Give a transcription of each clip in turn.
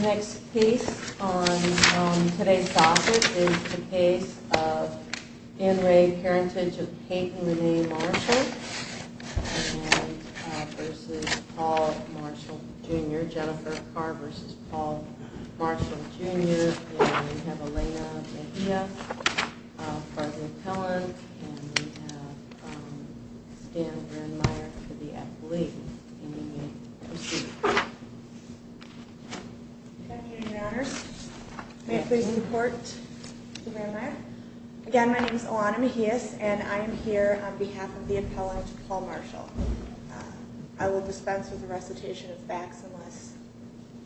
Next piece on today's docket is the piece of Anne Rae Parentage of Peyton Rene Marshall versus Paul Marshall Jr., Jennifer Carr versus Paul Marshall Jr., and we have Elena Mejia for the appellant, and we have Stan Brandmeier for the athlete. Good afternoon, your honors. May I please report to Brandmeier? Again, my name is Elana Mejia, and I am here on behalf of the appellant, Paul Marshall. I will dispense with the recitation of facts unless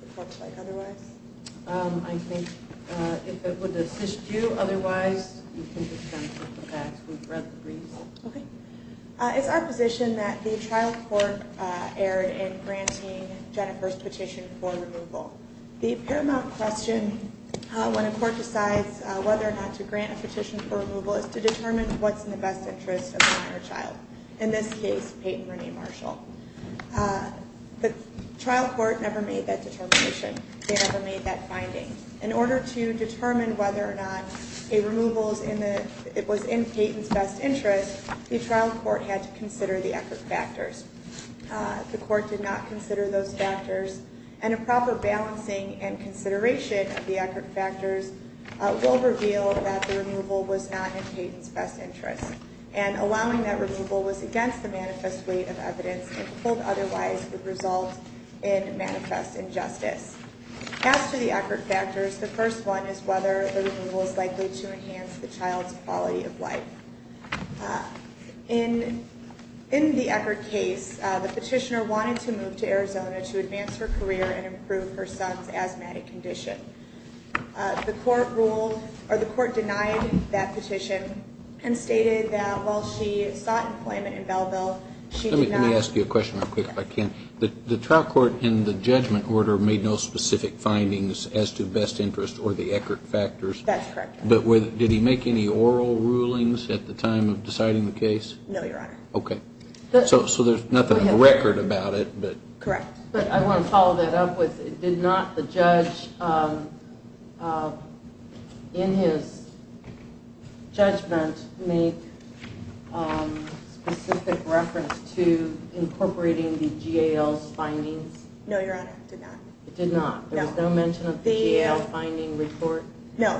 it looks like otherwise. I think if it would assist you, otherwise you can dispense with the facts. We've read the briefs. It's our position that the trial court erred in granting Jennifer's petition for removal. The paramount question when a court decides whether or not to grant a petition for removal is to determine what's in the best interest of the minor child, in this case, Peyton Rene Marshall. The trial court never made that determination. They never made that finding. In order to determine whether or not a removal was in Peyton's best interest, the trial court had to consider the effort factors. The court did not consider those factors, and a proper balancing and consideration of the effort factors will reveal that the removal was not in Peyton's best interest, and allowing that removal was against the manifest weight of evidence and pulled otherwise would result in manifest injustice. As to the effort factors, the first one is whether the removal is likely to enhance the child's quality of life. In the Eckerd case, the petitioner wanted to move to Arizona to advance her career and improve her son's asthmatic condition. The court ruled, or the court denied that petition and stated that while she sought employment in Belleville, she did not- Let me ask you a question real quick if I can. The trial court in the judgment order made no specific findings as to best interest or the Eckerd factors. That's correct. But did he make any oral rulings at the time of deciding the case? No, Your Honor. Okay. So there's nothing in the record about it, but- Correct. But I want to follow that up with, did not the judge in his judgment make specific reference to incorporating the GAL's findings? No, Your Honor, did not. It did not? No. There was no mention of the GAL finding report? No.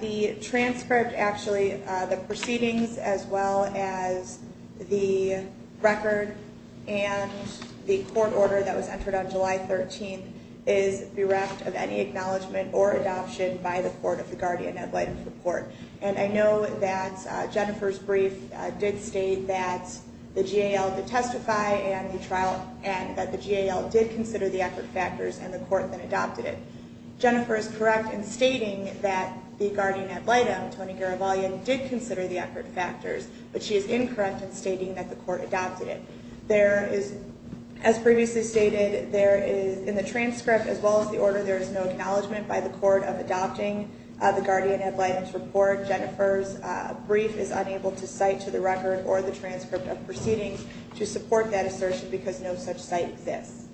The transcript, actually, the proceedings as well as the record and the court order that was entered on July 13th is bereft of any acknowledgment or adoption by the court of the guardian ad litem report. And I know that Jennifer's brief did state that the GAL did testify and that the GAL did consider the Eckerd factors and the court then adopted it. Jennifer is correct in stating that the guardian ad litem, Tony Garavaglia, did consider the Eckerd factors, but she is incorrect in stating that the court adopted it. There is, as previously stated, there is, in the transcript as well as the order, there is no acknowledgment by the court of adopting the guardian ad litem's report. Jennifer's brief is unable to cite to the record or the transcript of proceedings to support that assertion because no such cite exists.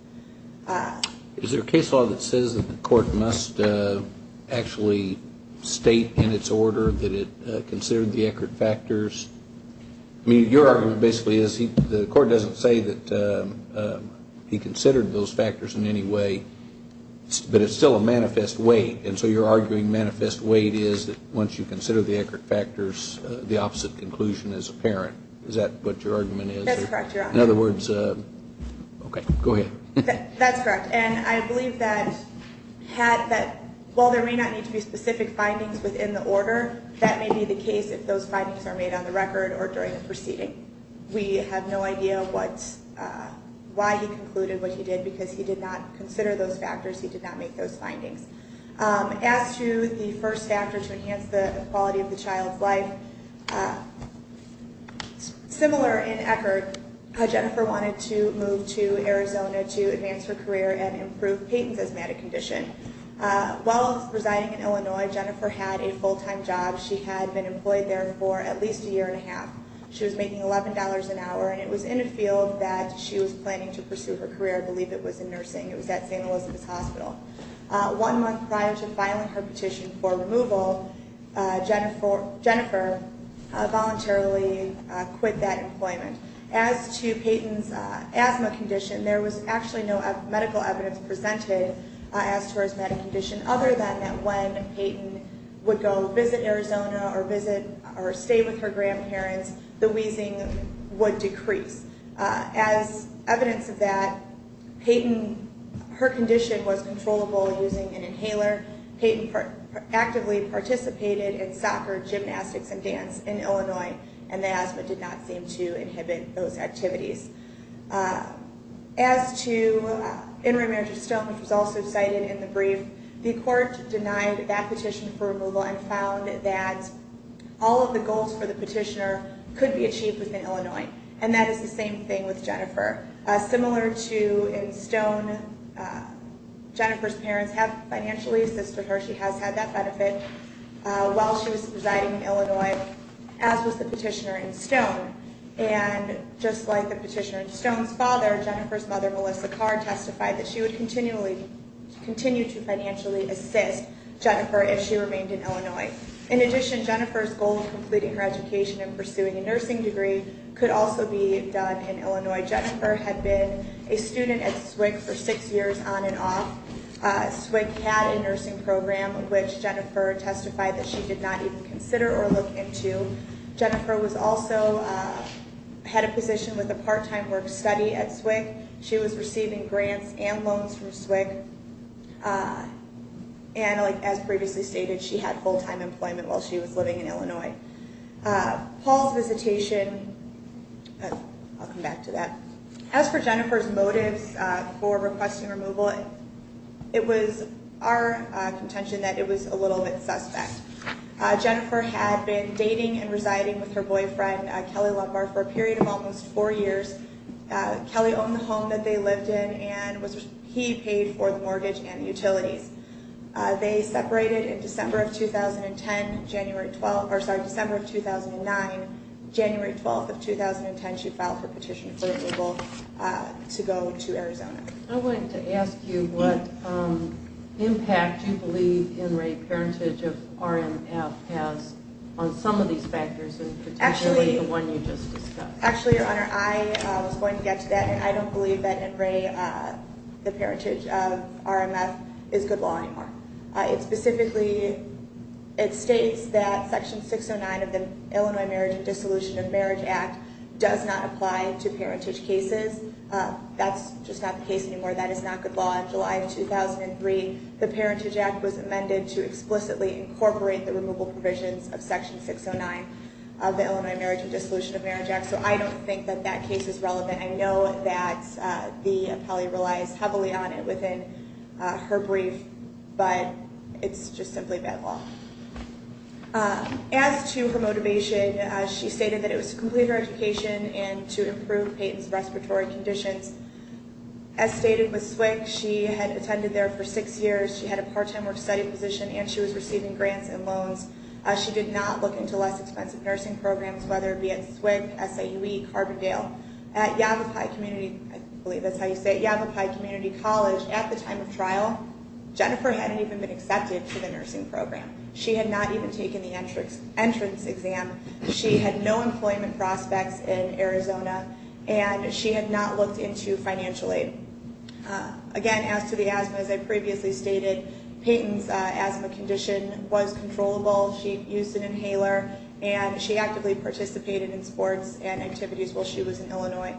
Is there a case law that says that the court must actually state in its order that it considered the Eckerd factors? I mean, your argument basically is the court doesn't say that he considered those factors in any way, but it's still a manifest weight, and so you're arguing manifest weight is that once you consider the Eckerd factors, the opposite conclusion is apparent. Is that what your argument is? That's correct, Your Honor. In other words, okay, go ahead. That's correct, and I believe that while there may not need to be specific findings within the order, that may be the case if those findings are made on the record or during the proceeding. We have no idea why he concluded what he did because he did not consider those factors. He did not make those findings. As to the first factor to enhance the quality of the child's life, similar in Eckerd, Jennifer wanted to move to Arizona to advance her career and improve Peyton's asthmatic condition. While residing in Illinois, Jennifer had a full-time job. She had been employed there for at least a year and a half. She was making $11 an hour, and it was in a field that she was planning to pursue her career. I believe it was in nursing. It was at St. Elizabeth's Hospital. One month prior to filing her petition for removal, Jennifer voluntarily quit that employment. As to Peyton's asthma condition, there was actually no medical evidence presented as to her asthmatic condition, other than that when Peyton would go visit Arizona or stay with her grandparents, the wheezing would decrease. As evidence of that, Peyton, her condition was controllable using an inhaler. Peyton actively participated in soccer, gymnastics, and dance in Illinois, and the asthma did not seem to inhibit those activities. As to in remand to Stone, which was also cited in the brief, the court denied that petition for removal and found that all of the goals for the petitioner could be achieved within Illinois, and that is the same thing with Jennifer. Similar to in Stone, Jennifer's parents have financially assisted her. She has had that benefit while she was residing in Illinois, as was the petitioner in Stone. And just like the petitioner in Stone's father, Jennifer's mother, Melissa Carr, testified that she would continue to financially assist Jennifer if she remained in Illinois. In addition, Jennifer's goal of completing her education and pursuing a nursing degree could also be done in Illinois. Jennifer had been a student at SWCC for six years on and off. SWCC had a nursing program, which Jennifer testified that she did not even consider or look into. Jennifer also had a position with a part-time work study at SWCC. She was receiving grants and loans from SWCC, and as previously stated, she had full-time employment while she was living in Illinois. Paul's visitation, I'll come back to that. As for Jennifer's motives for requesting removal, it was our contention that it was a little bit suspect. Jennifer had been dating and residing with her boyfriend, Kelly Lumbar, for a period of almost four years. Kelly owned the home that they lived in, and he paid for the mortgage and utilities. They separated in December of 2010, January 12th, or sorry, December of 2009. January 12th of 2010, she filed for petition for removal to go to Arizona. I wanted to ask you what impact you believe in rape heritage of RMF has on some of these factors, and potentially the one you just discussed. Actually, Your Honor, I was going to get to that. I don't believe that in rape the parentage of RMF is good law anymore. Specifically, it states that Section 609 of the Illinois Marriage and Dissolution of Marriage Act does not apply to parentage cases. That's just not the case anymore. That is not good law. In July of 2003, the Parentage Act was amended to explicitly incorporate the removal provisions of Section 609 of the Illinois Marriage and Dissolution of Marriage Act. So I don't think that that case is relevant. I know that the appellee relies heavily on it within her brief, but it's just simply bad law. As to her motivation, she stated that it was to complete her education and to improve Payton's respiratory conditions. As stated with SWCC, she had attended there for six years. She had a part-time work-study position, and she was receiving grants and loans. She did not look into less expensive nursing programs, whether it be at SWCC, SAUE, Carbondale. At Yavapai Community College, at the time of trial, Jennifer hadn't even been accepted to the nursing program. She had not even taken the entrance exam. She had no employment prospects in Arizona, and she had not looked into financial aid. Again, as to the asthma, as I previously stated, Payton's asthma condition was controllable. She used an inhaler, and she actively participated in sports and activities while she was in Illinois.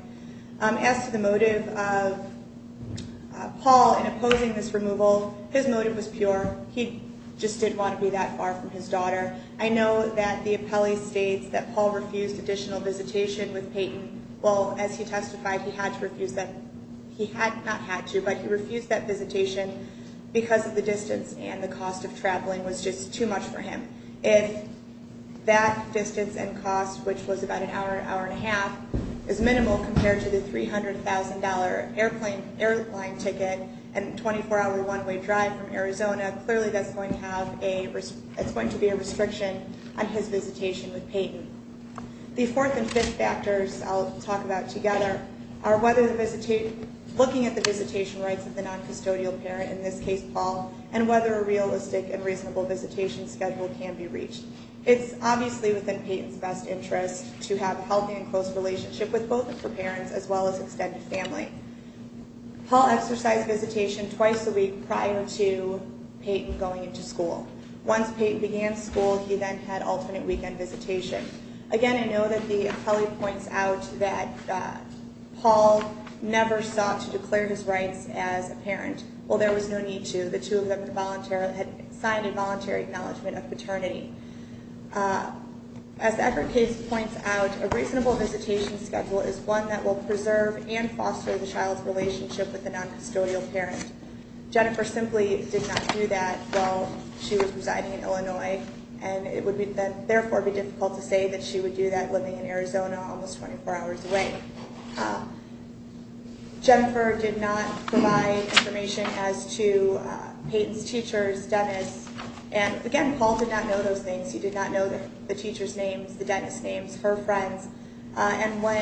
As to the motive of Paul in opposing this removal, his motive was pure. He just didn't want to be that far from his daughter. I know that the appellee states that Paul refused additional visitation with Payton. Well, as he testified, he had not had to, but he refused that visitation because of the distance and the cost of traveling was just too much for him. If that distance and cost, which was about an hour, hour and a half, is minimal compared to the $300,000 airplane ticket and 24-hour one-way drive from Arizona, clearly that's going to be a restriction on his visitation with Payton. The fourth and fifth factors I'll talk about together are whether the visitation, looking at the visitation rights of the noncustodial parent, in this case Paul, and whether a realistic and reasonable visitation schedule can be reached. It's obviously within Payton's best interest to have a healthy and close relationship with both of her parents as well as extended family. Paul exercised visitation twice a week prior to Payton going into school. Once Payton began school, he then had alternate weekend visitation. Again, I know that the appellee points out that Paul never sought to declare his rights as a parent. Well, there was no need to. The two of them had signed a voluntary acknowledgment of paternity. As the effort case points out, a reasonable visitation schedule is one that will preserve and foster the child's relationship with the noncustodial parent. Jennifer simply did not do that while she was residing in Illinois, and it would therefore be difficult to say that she would do that living in Arizona, almost 24 hours away. Jennifer did not provide information as to Payton's teachers, Dennis, and again, Paul did not know those names. He did not know the teachers' names, the Dennis names, her friends. And when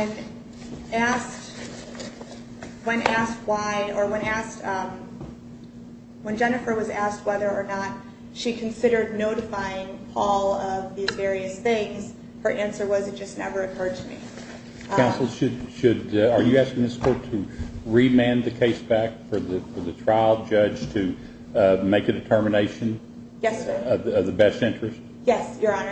Jennifer was asked whether or not she considered notifying Paul of these various things, her answer was it just never occurred to me. Counsel, are you asking this court to remand the case back for the trial judge to make a determination? Yes, sir. Of the best interest? Yes, Your Honor.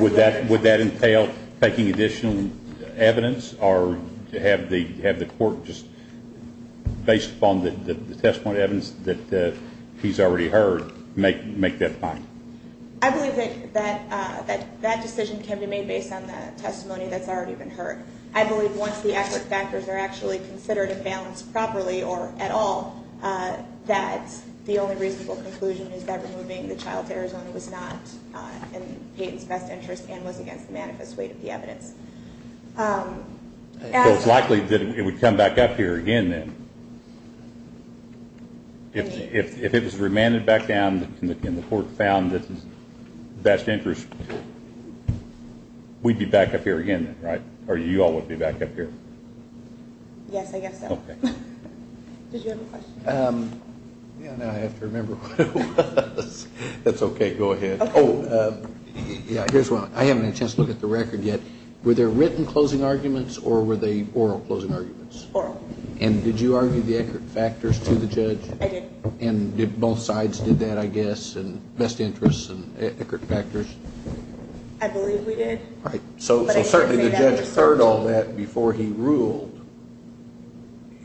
Would that entail taking additional evidence or have the court just, based upon the testimony evidence that he's already heard, make that point? I believe that that decision can be made based on the testimony that's already been heard. I believe once the accurate factors are actually considered and balanced properly or at all, that the only reasonable conclusion is that removing the child to Arizona was not in Payton's best interest and was against the manifest weight of the evidence. So it's likely that it would come back up here again then? If it was remanded back down and the court found that it's the best interest, we'd be back up here again then, right? Or you all would be back up here? Yes, I guess so. Okay. Did you have a question? Yeah, now I have to remember what it was. That's okay, go ahead. Oh, yeah, here's one. I haven't had a chance to look at the record yet. Were there written closing arguments or were they oral closing arguments? Oral. And did you argue the accurate factors to the judge? I did. And did both sides do that, I guess, and best interests and accurate factors? I believe we did. All right, so certainly the judge heard all that before he ruled.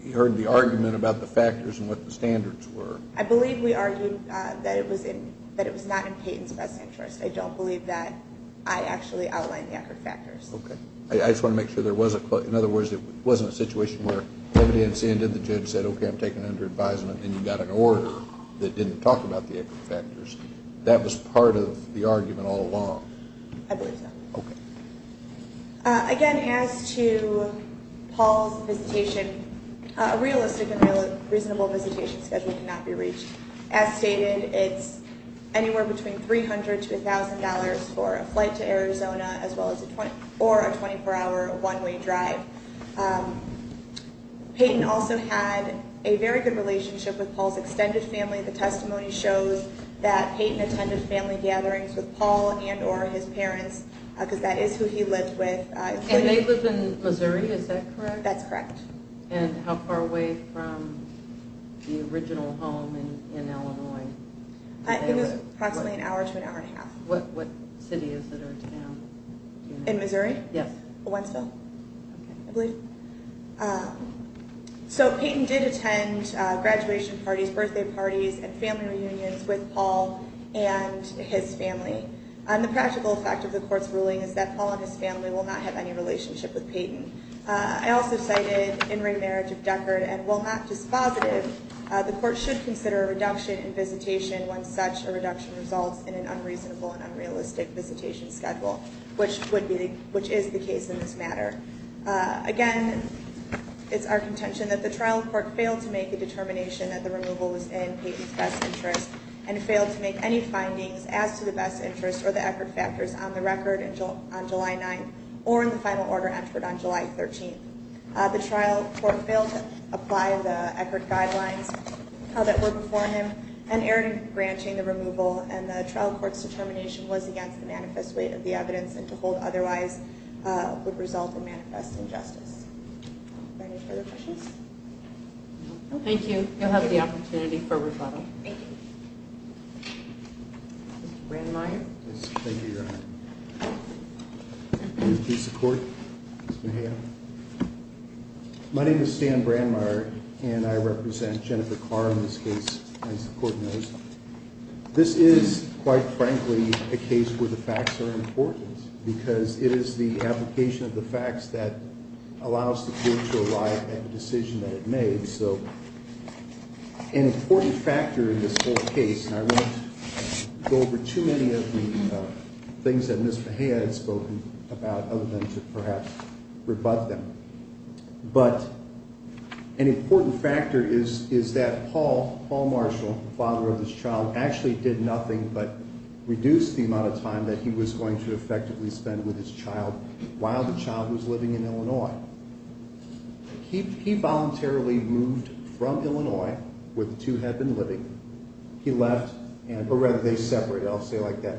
He heard the argument about the factors and what the standards were. I believe we argued that it was not in Payton's best interest. I don't believe that I actually outlined the accurate factors. Okay. I just want to make sure there was a – in other words, it wasn't a situation where evidence ended, the judge said, okay, I'm taking it under advisement, and you got an order that didn't talk about the accurate factors. That was part of the argument all along? I believe so. Okay. Again, as to Paul's visitation, a realistic and reasonable visitation schedule cannot be reached. As stated, it's anywhere between $300 to $1,000 for a flight to Arizona or a 24-hour one-way drive. Payton also had a very good relationship with Paul's extended family. The testimony shows that Payton attended family gatherings with Paul and or his parents because that is who he lived with. And they live in Missouri. Is that correct? That's correct. And how far away from the original home in Illinois? It was approximately an hour to an hour and a half. What city is it or town? In Missouri? Yes. Owensville, I believe. So Payton did attend graduation parties, birthday parties, and family reunions with Paul and his family. And the practical effect of the court's ruling is that Paul and his family will not have any relationship with Payton. I also cited in remarriage of Deckard, and while not dispositive, the court should consider a reduction in visitation when such a reduction results in an unreasonable and unrealistic visitation schedule, which is the case in this matter. Again, it's our contention that the trial court failed to make a determination that the removal was in Payton's best interest and failed to make any findings as to the best interest or the Eckerd factors on the record on July 9th or in the final order entered on July 13th. The trial court failed to apply the Eckerd guidelines that were before him and erred in branching the removal, and the trial court's determination was against the manifest weight of the evidence and to hold otherwise would result in manifest injustice. Are there any further questions? Thank you. You'll have the opportunity for a rebuttal. Thank you. Mr. Brandmeier. Thank you, Your Honor. Peace of court. My name is Stan Brandmeier, and I represent Jennifer Carr in this case, as the court knows. This is, quite frankly, a case where the facts are important because it is the application of the facts that allows the case to arrive at the decision that it made. So an important factor in this whole case, and I won't go over too many of the things that Ms. Mejia had spoken about other than to perhaps rebut them, but an important factor is that Paul Marshall, the father of this child, actually did nothing but reduce the amount of time that he was going to effectively spend with his child while the child was living in Illinois. He voluntarily moved from Illinois, where the two had been living. He left, or rather they separated, I'll say like that.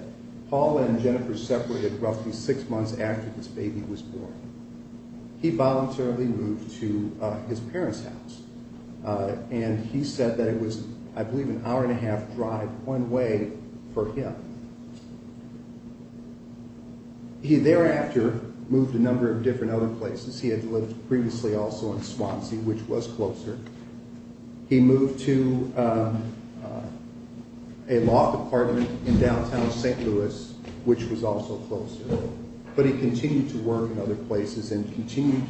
Paul and Jennifer separated roughly six months after this baby was born. He voluntarily moved to his parents' house, and he said that it was, I believe, an hour and a half drive one way for him. He thereafter moved a number of different other places. He had lived previously also in Swansea, which was closer. He moved to a law department in downtown St. Louis, which was also closer. But he continued to work in other places and continued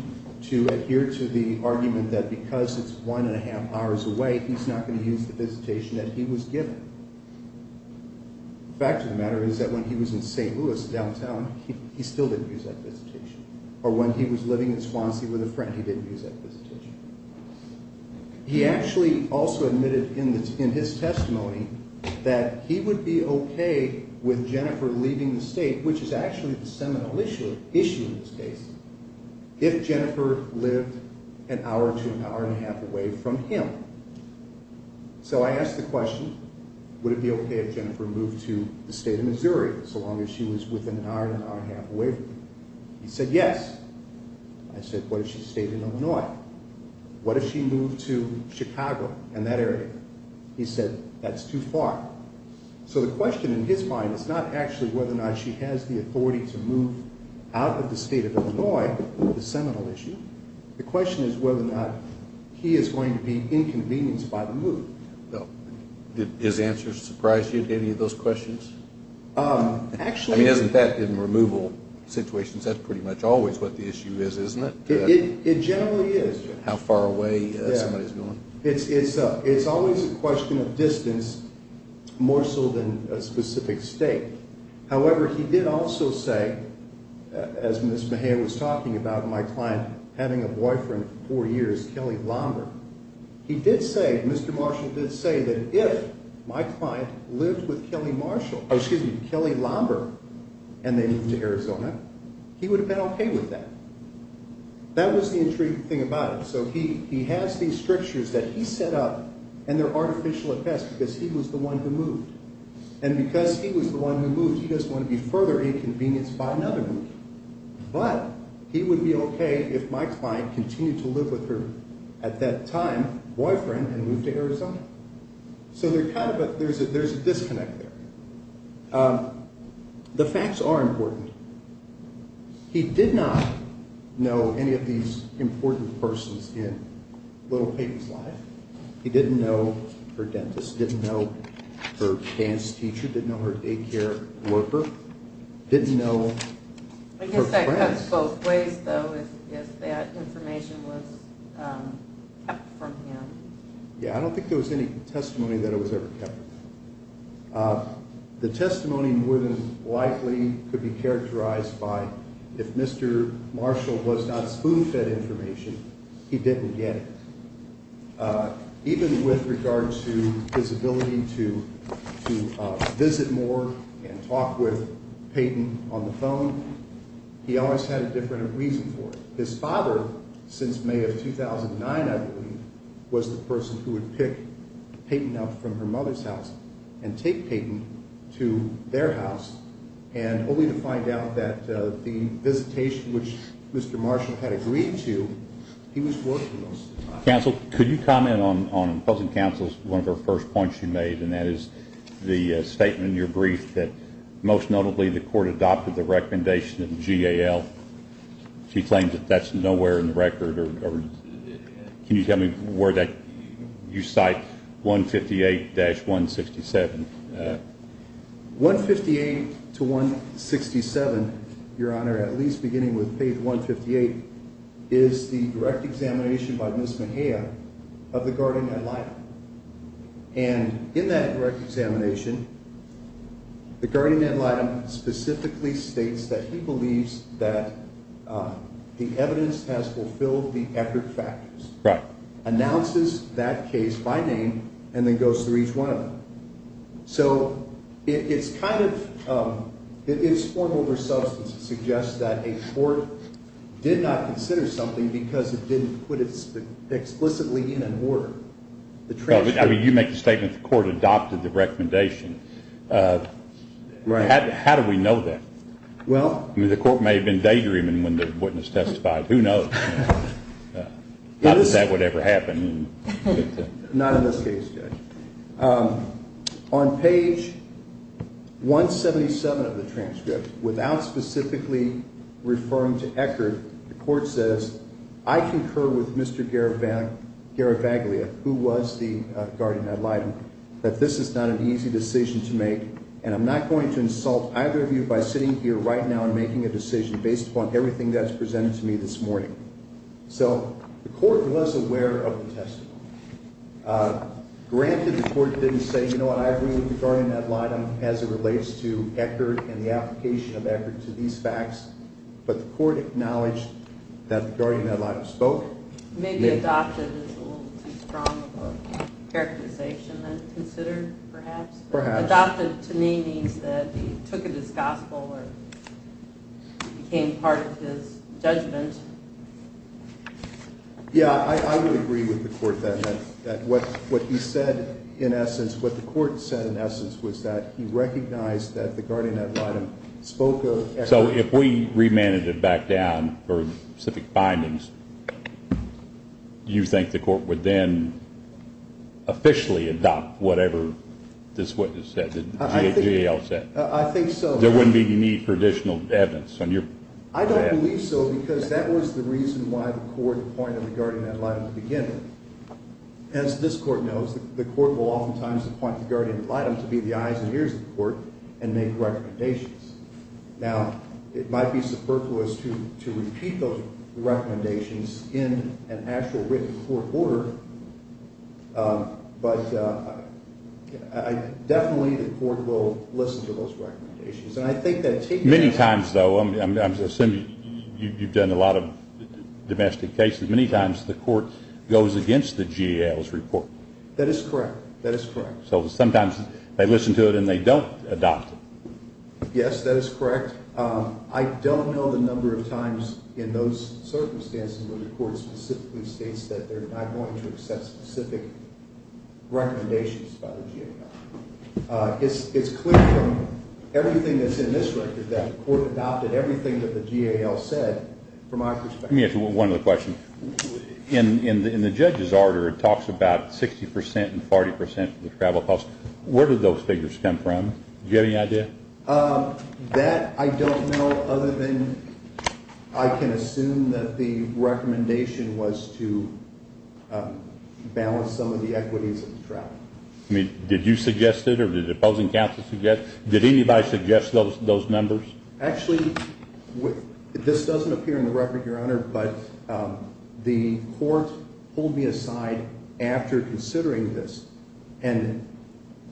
to adhere to the argument that because it's one and a half hours away, he's not going to use the visitation that he was given. The fact of the matter is that when he was in St. Louis downtown, he still didn't use that visitation. Or when he was living in Swansea with a friend, he didn't use that visitation. He actually also admitted in his testimony that he would be okay with Jennifer leaving the state, which is actually the seminal issue in this case, if Jennifer lived an hour to an hour and a half away from him. So I asked the question, would it be okay if Jennifer moved to the state of Missouri so long as she was within an hour to an hour and a half away from him? He said yes. I said, what if she stayed in Illinois? What if she moved to Chicago and that area? He said, that's too far. So the question in his mind is not actually whether or not she has the authority to move out of the state of Illinois, the seminal issue. The question is whether or not he is going to be inconvenienced by the move. Did his answer surprise you, any of those questions? Actually. I mean, isn't that in removal situations, that's pretty much always what the issue is, isn't it? It generally is. How far away somebody is going. It's always a question of distance, more so than a specific state. However, he did also say, as Ms. Mejia was talking about, my client having a boyfriend for four years, Kelly Lombard. He did say, Mr. Marshall did say, that if my client lived with Kelly Lombard and they moved to Arizona, he would have been okay with that. That was the intriguing thing about it. So he has these strictures that he set up, and they're artificial at best because he was the one who moved. And because he was the one who moved, he doesn't want to be further inconvenienced by another move. But he would be okay if my client continued to live with her, at that time, boyfriend, and moved to Arizona. So there's a disconnect there. The facts are important. He did not know any of these important persons in little Peyton's life. He didn't know her dentist. Didn't know her dance teacher. Didn't know her daycare worker. Didn't know her friends. I guess that cuts both ways, though, if that information was kept from him. Yeah, I don't think there was any testimony that it was ever kept. The testimony more than likely could be characterized by, if Mr. Marshall was not spoon-fed information, he didn't get it. Even with regard to his ability to visit more and talk with Peyton on the phone, he always had a different reason for it. His father, since May of 2009, I believe, was the person who would pick Peyton up from her mother's house and take Peyton to their house, and only to find out that the visitation which Mr. Marshall had agreed to, he was working most of the time. Counsel, could you comment on President Counsel's one of her first points you made, and that is the statement in your brief that, most notably, the court adopted the recommendation of the GAL. She claims that that's nowhere in the record. Can you tell me where that you cite, 158-167? 158 to 167, Your Honor, at least beginning with page 158, is the direct examination by Ms. Mejia of the guardian ad litem. And in that direct examination, the guardian ad litem specifically states that he believes that the evidence has fulfilled the effort factors. Right. Announces that case by name, and then goes through each one of them. So it's kind of, it's form over substance. It suggests that a court did not consider something because it didn't put it explicitly in an order. The transcript. I mean, you make the statement the court adopted the recommendation. Right. How do we know that? Well. I mean, the court may have been daydreaming when the witness testified. Who knows? Not that that would ever happen. Not in this case, Judge. On page 177 of the transcript, without specifically referring to Eckert, the court says, I concur with Mr. Garavaglia, who was the guardian ad litem, that this is not an easy decision to make, and I'm not going to insult either of you by sitting here right now and making a decision based upon everything that's presented to me this morning. So the court was aware of the testimony. Granted, the court didn't say, you know what, I agree with the guardian ad litem as it relates to Eckert and the application of Eckert to these facts, but the court acknowledged that the guardian ad litem spoke. Maybe adopted is a little too strong of a characterization than considered, perhaps. Perhaps. Adopted to me means that he took it as gospel or became part of his judgment. Yeah, I would agree with the court that what he said, in essence, what the court said, in essence, was that he recognized that the guardian ad litem spoke of Eckert. So if we remanded it back down for specific findings, do you think the court would then officially adopt whatever this witness said, the GAO said? I think so. There wouldn't be any need for additional evidence on your behalf? I don't believe so, because that was the reason why the court appointed the guardian ad litem to begin with. As this court knows, the court will oftentimes appoint the guardian ad litem to be the eyes and ears of the court and make recommendations. Now, it might be superfluous to repeat those recommendations in an actual written court order, but definitely the court will listen to those recommendations. Many times, though, I'm assuming you've done a lot of domestic cases, many times the court goes against the GAO's report. That is correct. That is correct. So sometimes they listen to it and they don't adopt it. Yes, that is correct. I don't know the number of times in those circumstances where the court specifically states that they're not going to accept specific recommendations by the GAO. It's clear from everything that's in this record that the court adopted everything that the GAO said, from my perspective. Let me ask you one other question. In the judge's order, it talks about 60% and 40% of the travel costs. Where did those figures come from? Do you have any idea? That I don't know, other than I can assume that the recommendation was to balance some of the equities of the travel. Did you suggest it or did the opposing counsel suggest it? Did anybody suggest those numbers? Actually, this doesn't appear in the record, Your Honor, but the court pulled me aside after considering this and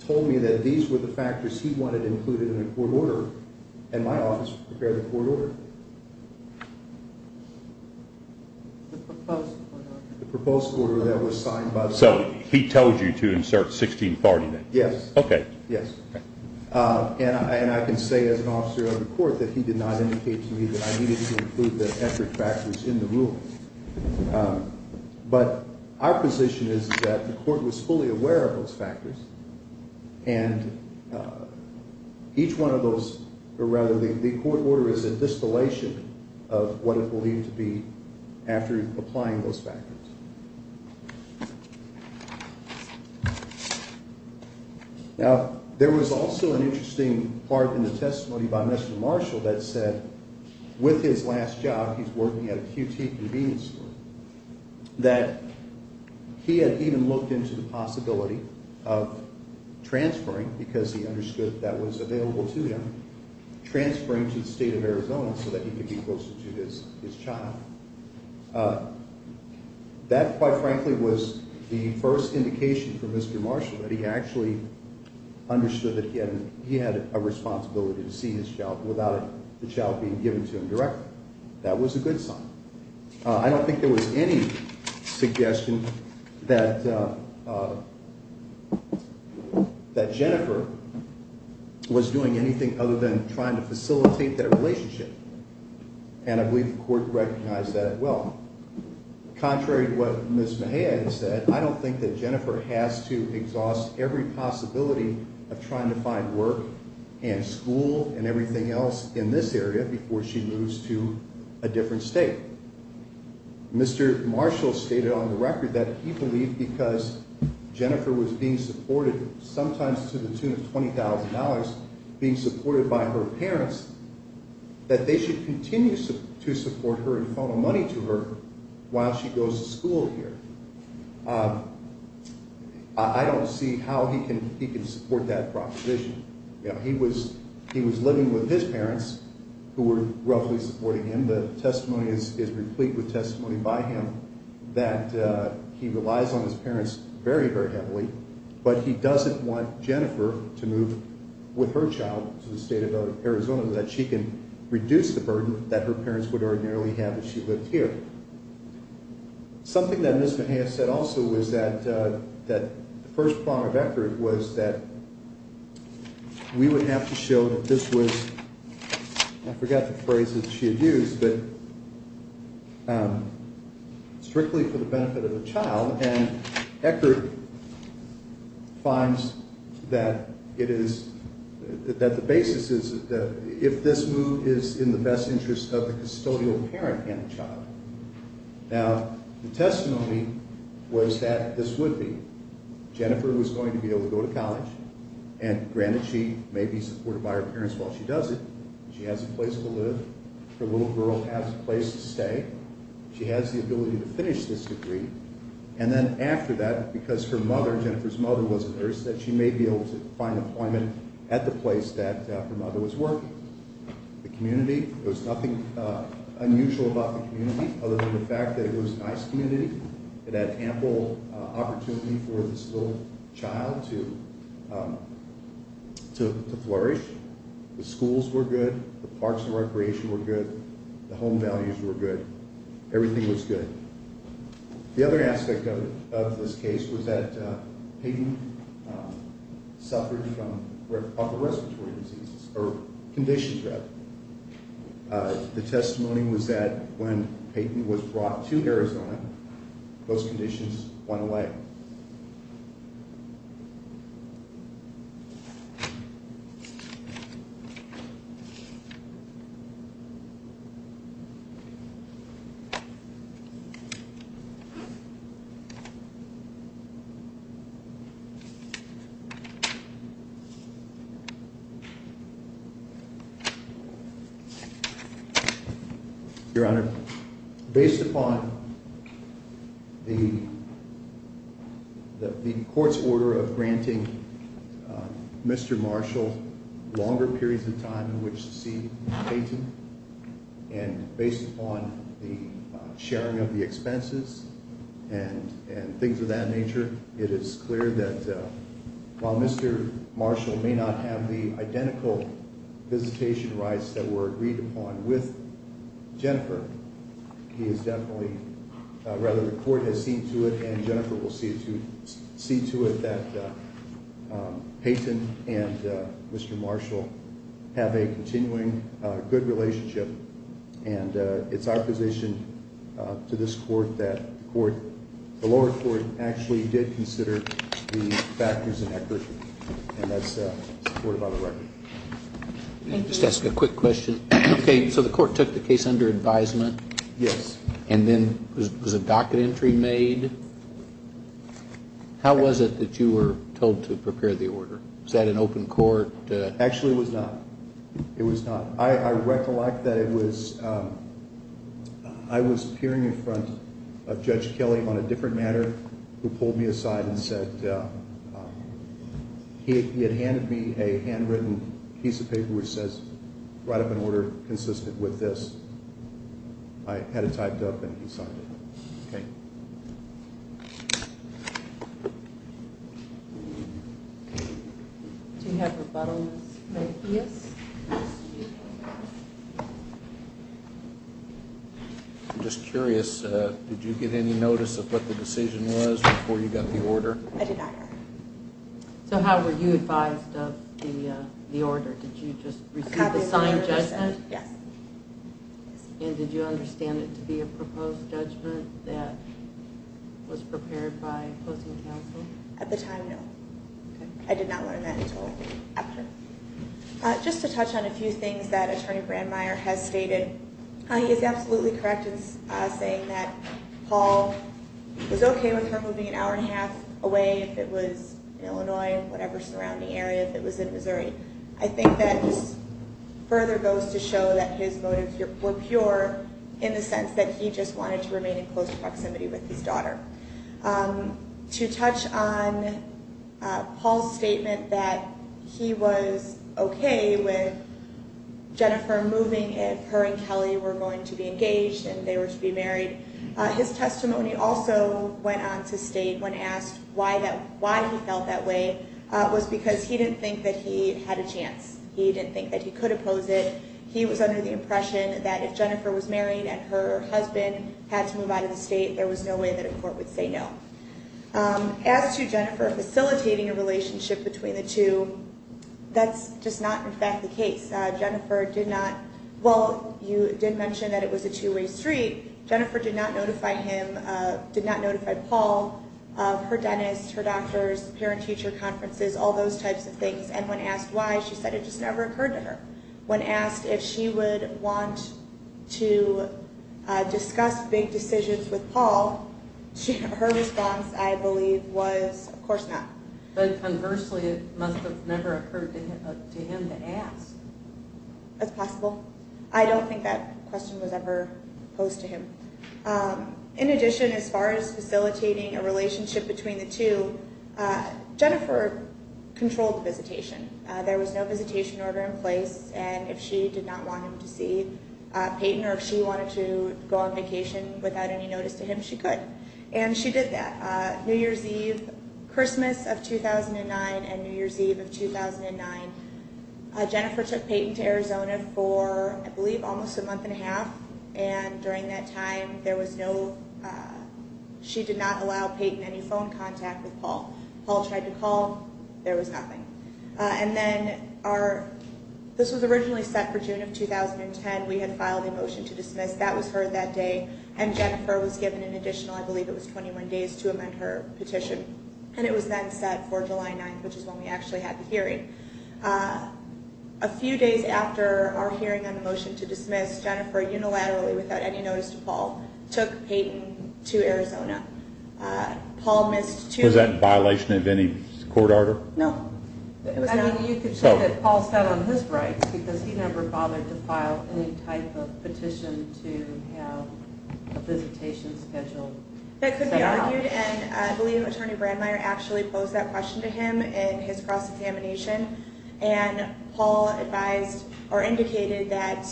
told me that these were the factors he wanted included in a court order, and my office prepared a court order. The proposed order that was signed by the court. So he told you to insert 60 and 40 then? Yes. Okay. Yes. And I can say as an officer of the court that he did not indicate to me that I needed to include the effort factors in the rule. But our position is that the court was fully aware of those factors, and each one of those, or rather the court order is a distillation of what it will need to be after applying those factors. Now, there was also an interesting part in the testimony by Mr. Marshall that said with his last job, he's working at a QT convenience store, that he had even looked into the possibility of transferring, because he understood that was available to him, transferring to the state of Arizona so that he could be closer to his child. That, quite frankly, was the first indication from Mr. Marshall that he actually understood that he had a responsibility to see his child without the child being given to him directly. That was a good sign. I don't think there was any suggestion that Jennifer was doing anything other than trying to facilitate their relationship, and I believe the court recognized that as well. Contrary to what Ms. Mejia had said, I don't think that Jennifer has to exhaust every possibility of trying to find work and school and everything else in this area before she moves to a different state. Mr. Marshall stated on the record that he believed because Jennifer was being supported, sometimes to the tune of $20,000, being supported by her parents, that they should continue to support her and funnel money to her while she goes to school here. I don't see how he can support that proposition. He was living with his parents, who were roughly supporting him. The testimony is replete with testimony by him that he relies on his parents very, very heavily, but he doesn't want Jennifer to move with her child to the state of Arizona so that she can reduce the burden that her parents would ordinarily have if she lived here. Something that Ms. Mejia said also was that the first part of Eckert was that we would have to show that this was, I forgot the phrase that she had used, but strictly for the benefit of the child. And Eckert finds that the basis is that if this move is in the best interest of the custodial parent and the child. Now, the testimony was that this would be. Jennifer was going to be able to go to college, and granted she may be supported by her parents while she does it. She has a place to live. Her little girl has a place to stay. She has the ability to finish this degree. And then after that, because her mother, Jennifer's mother, was a nurse, that she may be able to find employment at the place that her mother was working. The community, there was nothing unusual about the community, other than the fact that it was a nice community. It had ample opportunity for this little child to flourish. The schools were good. The parks and recreation were good. The home values were good. Everything was good. The other aspect of this case was that Peyton suffered from respiratory diseases, or conditions, rather. The testimony was that when Peyton was brought to Arizona, those conditions went away. Your Honor, based upon the court's order of granting Mr. Marshall longer periods of time in which to see Peyton, and based upon the sharing of the expenses and things of that nature, it is clear that while Mr. Marshall may not have the identical visitation rights that were agreed upon with Jennifer, he is definitely, rather, the court has seen to it, and Jennifer will see to it, that Peyton and Mr. Marshall have a continuing good relationship. And it's our position to this court that the lower court actually did consider the factors and accuracy, and that's supported by the record. I'll just ask a quick question. Okay, so the court took the case under advisement? Yes. And then was a docket entry made? How was it that you were told to prepare the order? Was that an open court? Actually, it was not. It was not. I recollect that it was, I was appearing in front of Judge Kelly on a different matter who pulled me aside and said, he had handed me a handwritten piece of paper which says, write up an order consistent with this. I had it typed up and he signed it. Okay. Do you have rebuttals? Yes. I'm just curious, did you get any notice of what the decision was before you got the order? I did not. So how were you advised of the order? Did you just receive the signed judgment? Yes. And did you understand it to be a proposed judgment that was prepared by opposing counsel? At the time, no. I did not learn that until after. Just to touch on a few things that Attorney Brandmeier has stated, he is absolutely correct in saying that Paul was okay with her moving an hour and a half away if it was in Illinois, whatever surrounding area, if it was in Missouri. I think that further goes to show that his motives were pure in the sense that he just wanted to remain in close proximity with his daughter. To touch on Paul's statement that he was okay with Jennifer moving if her and Kelly were going to be engaged and they were to be married, his testimony also went on to state, when asked why he felt that way, was because he didn't think that he had a chance. He didn't think that he could oppose it. He was under the impression that if Jennifer was married and her husband had to move out of the state, there was no way that a court would say no. As to Jennifer facilitating a relationship between the two, that's just not, in fact, the case. Jennifer did not, well, you did mention that it was a two-way street. Jennifer did not notify him, did not notify Paul, her dentist, her doctors, parent-teacher conferences, all those types of things. And when asked why, she said it just never occurred to her. When asked if she would want to discuss big decisions with Paul, her response, I believe, was of course not. But conversely, it must have never occurred to him to ask. That's possible. I don't think that question was ever posed to him. In addition, as far as facilitating a relationship between the two, Jennifer controlled the visitation. There was no visitation order in place. And if she did not want him to see Peyton or if she wanted to go on vacation without any notice to him, she could. And she did that. New Year's Eve, Christmas of 2009 and New Year's Eve of 2009, Jennifer took Peyton to Arizona for, I believe, almost a month and a half. And during that time, there was no, she did not allow Peyton any phone contact with Paul. Paul tried to call. There was nothing. And then our, this was originally set for June of 2010. We had filed a motion to dismiss. That was heard that day. And Jennifer was given an additional, I believe it was 21 days, to amend her petition. And it was then set for July 9th, which is when we actually had the hearing. A few days after our hearing on the motion to dismiss, Jennifer unilaterally, without any notice to Paul, took Peyton to Arizona. Paul missed two weeks. Was that in violation of any court order? No. I mean, you could say that Paul is not on his rights because he never bothered to file any type of petition to have a visitation scheduled. That could be argued. And I believe Attorney Brandmeier actually posed that question to him in his cross-examination. And Paul advised or indicated that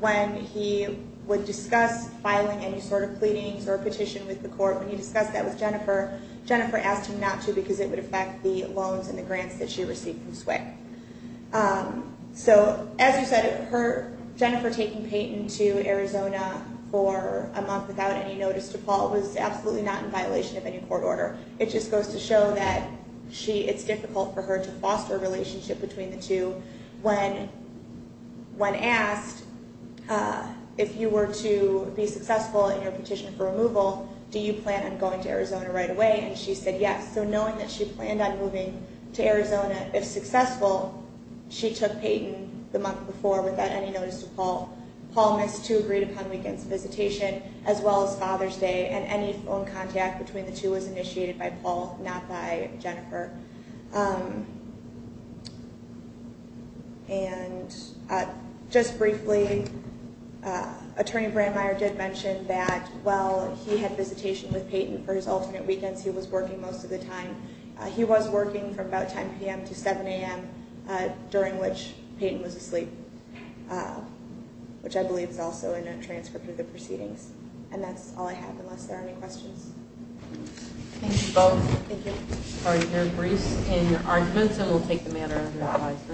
when he would discuss filing any sort of pleadings or petition with the court, when he discussed that with Jennifer, Jennifer asked him not to because it would affect the loans and the grants that she received from SWCC. So, as you said, her, Jennifer taking Peyton to Arizona for a month without any notice to Paul was absolutely not in violation of any court order. It just goes to show that she, it's difficult for her to foster a relationship between the two. When asked if you were to be successful in your petition for removal, do you plan on going to Arizona right away? And she said yes. So, knowing that she planned on moving to Arizona, if successful, she took Peyton the month before without any notice to Paul. Paul missed two agreed-upon weekends, visitation as well as Father's Day, and any phone contact between the two was initiated by Paul, not by Jennifer. And just briefly, Attorney Brandmeier did mention that while he had visitation with Peyton for his alternate weekends, he was working most of the time. He was working from about 10 p.m. to 7 a.m. during which Peyton was asleep, which I believe is also in a transcript of the proceedings. And that's all I have, unless there are any questions. Thank you both. Thank you. Sorry to hear it, Bruce. In arguments, I will take the matter under advisory.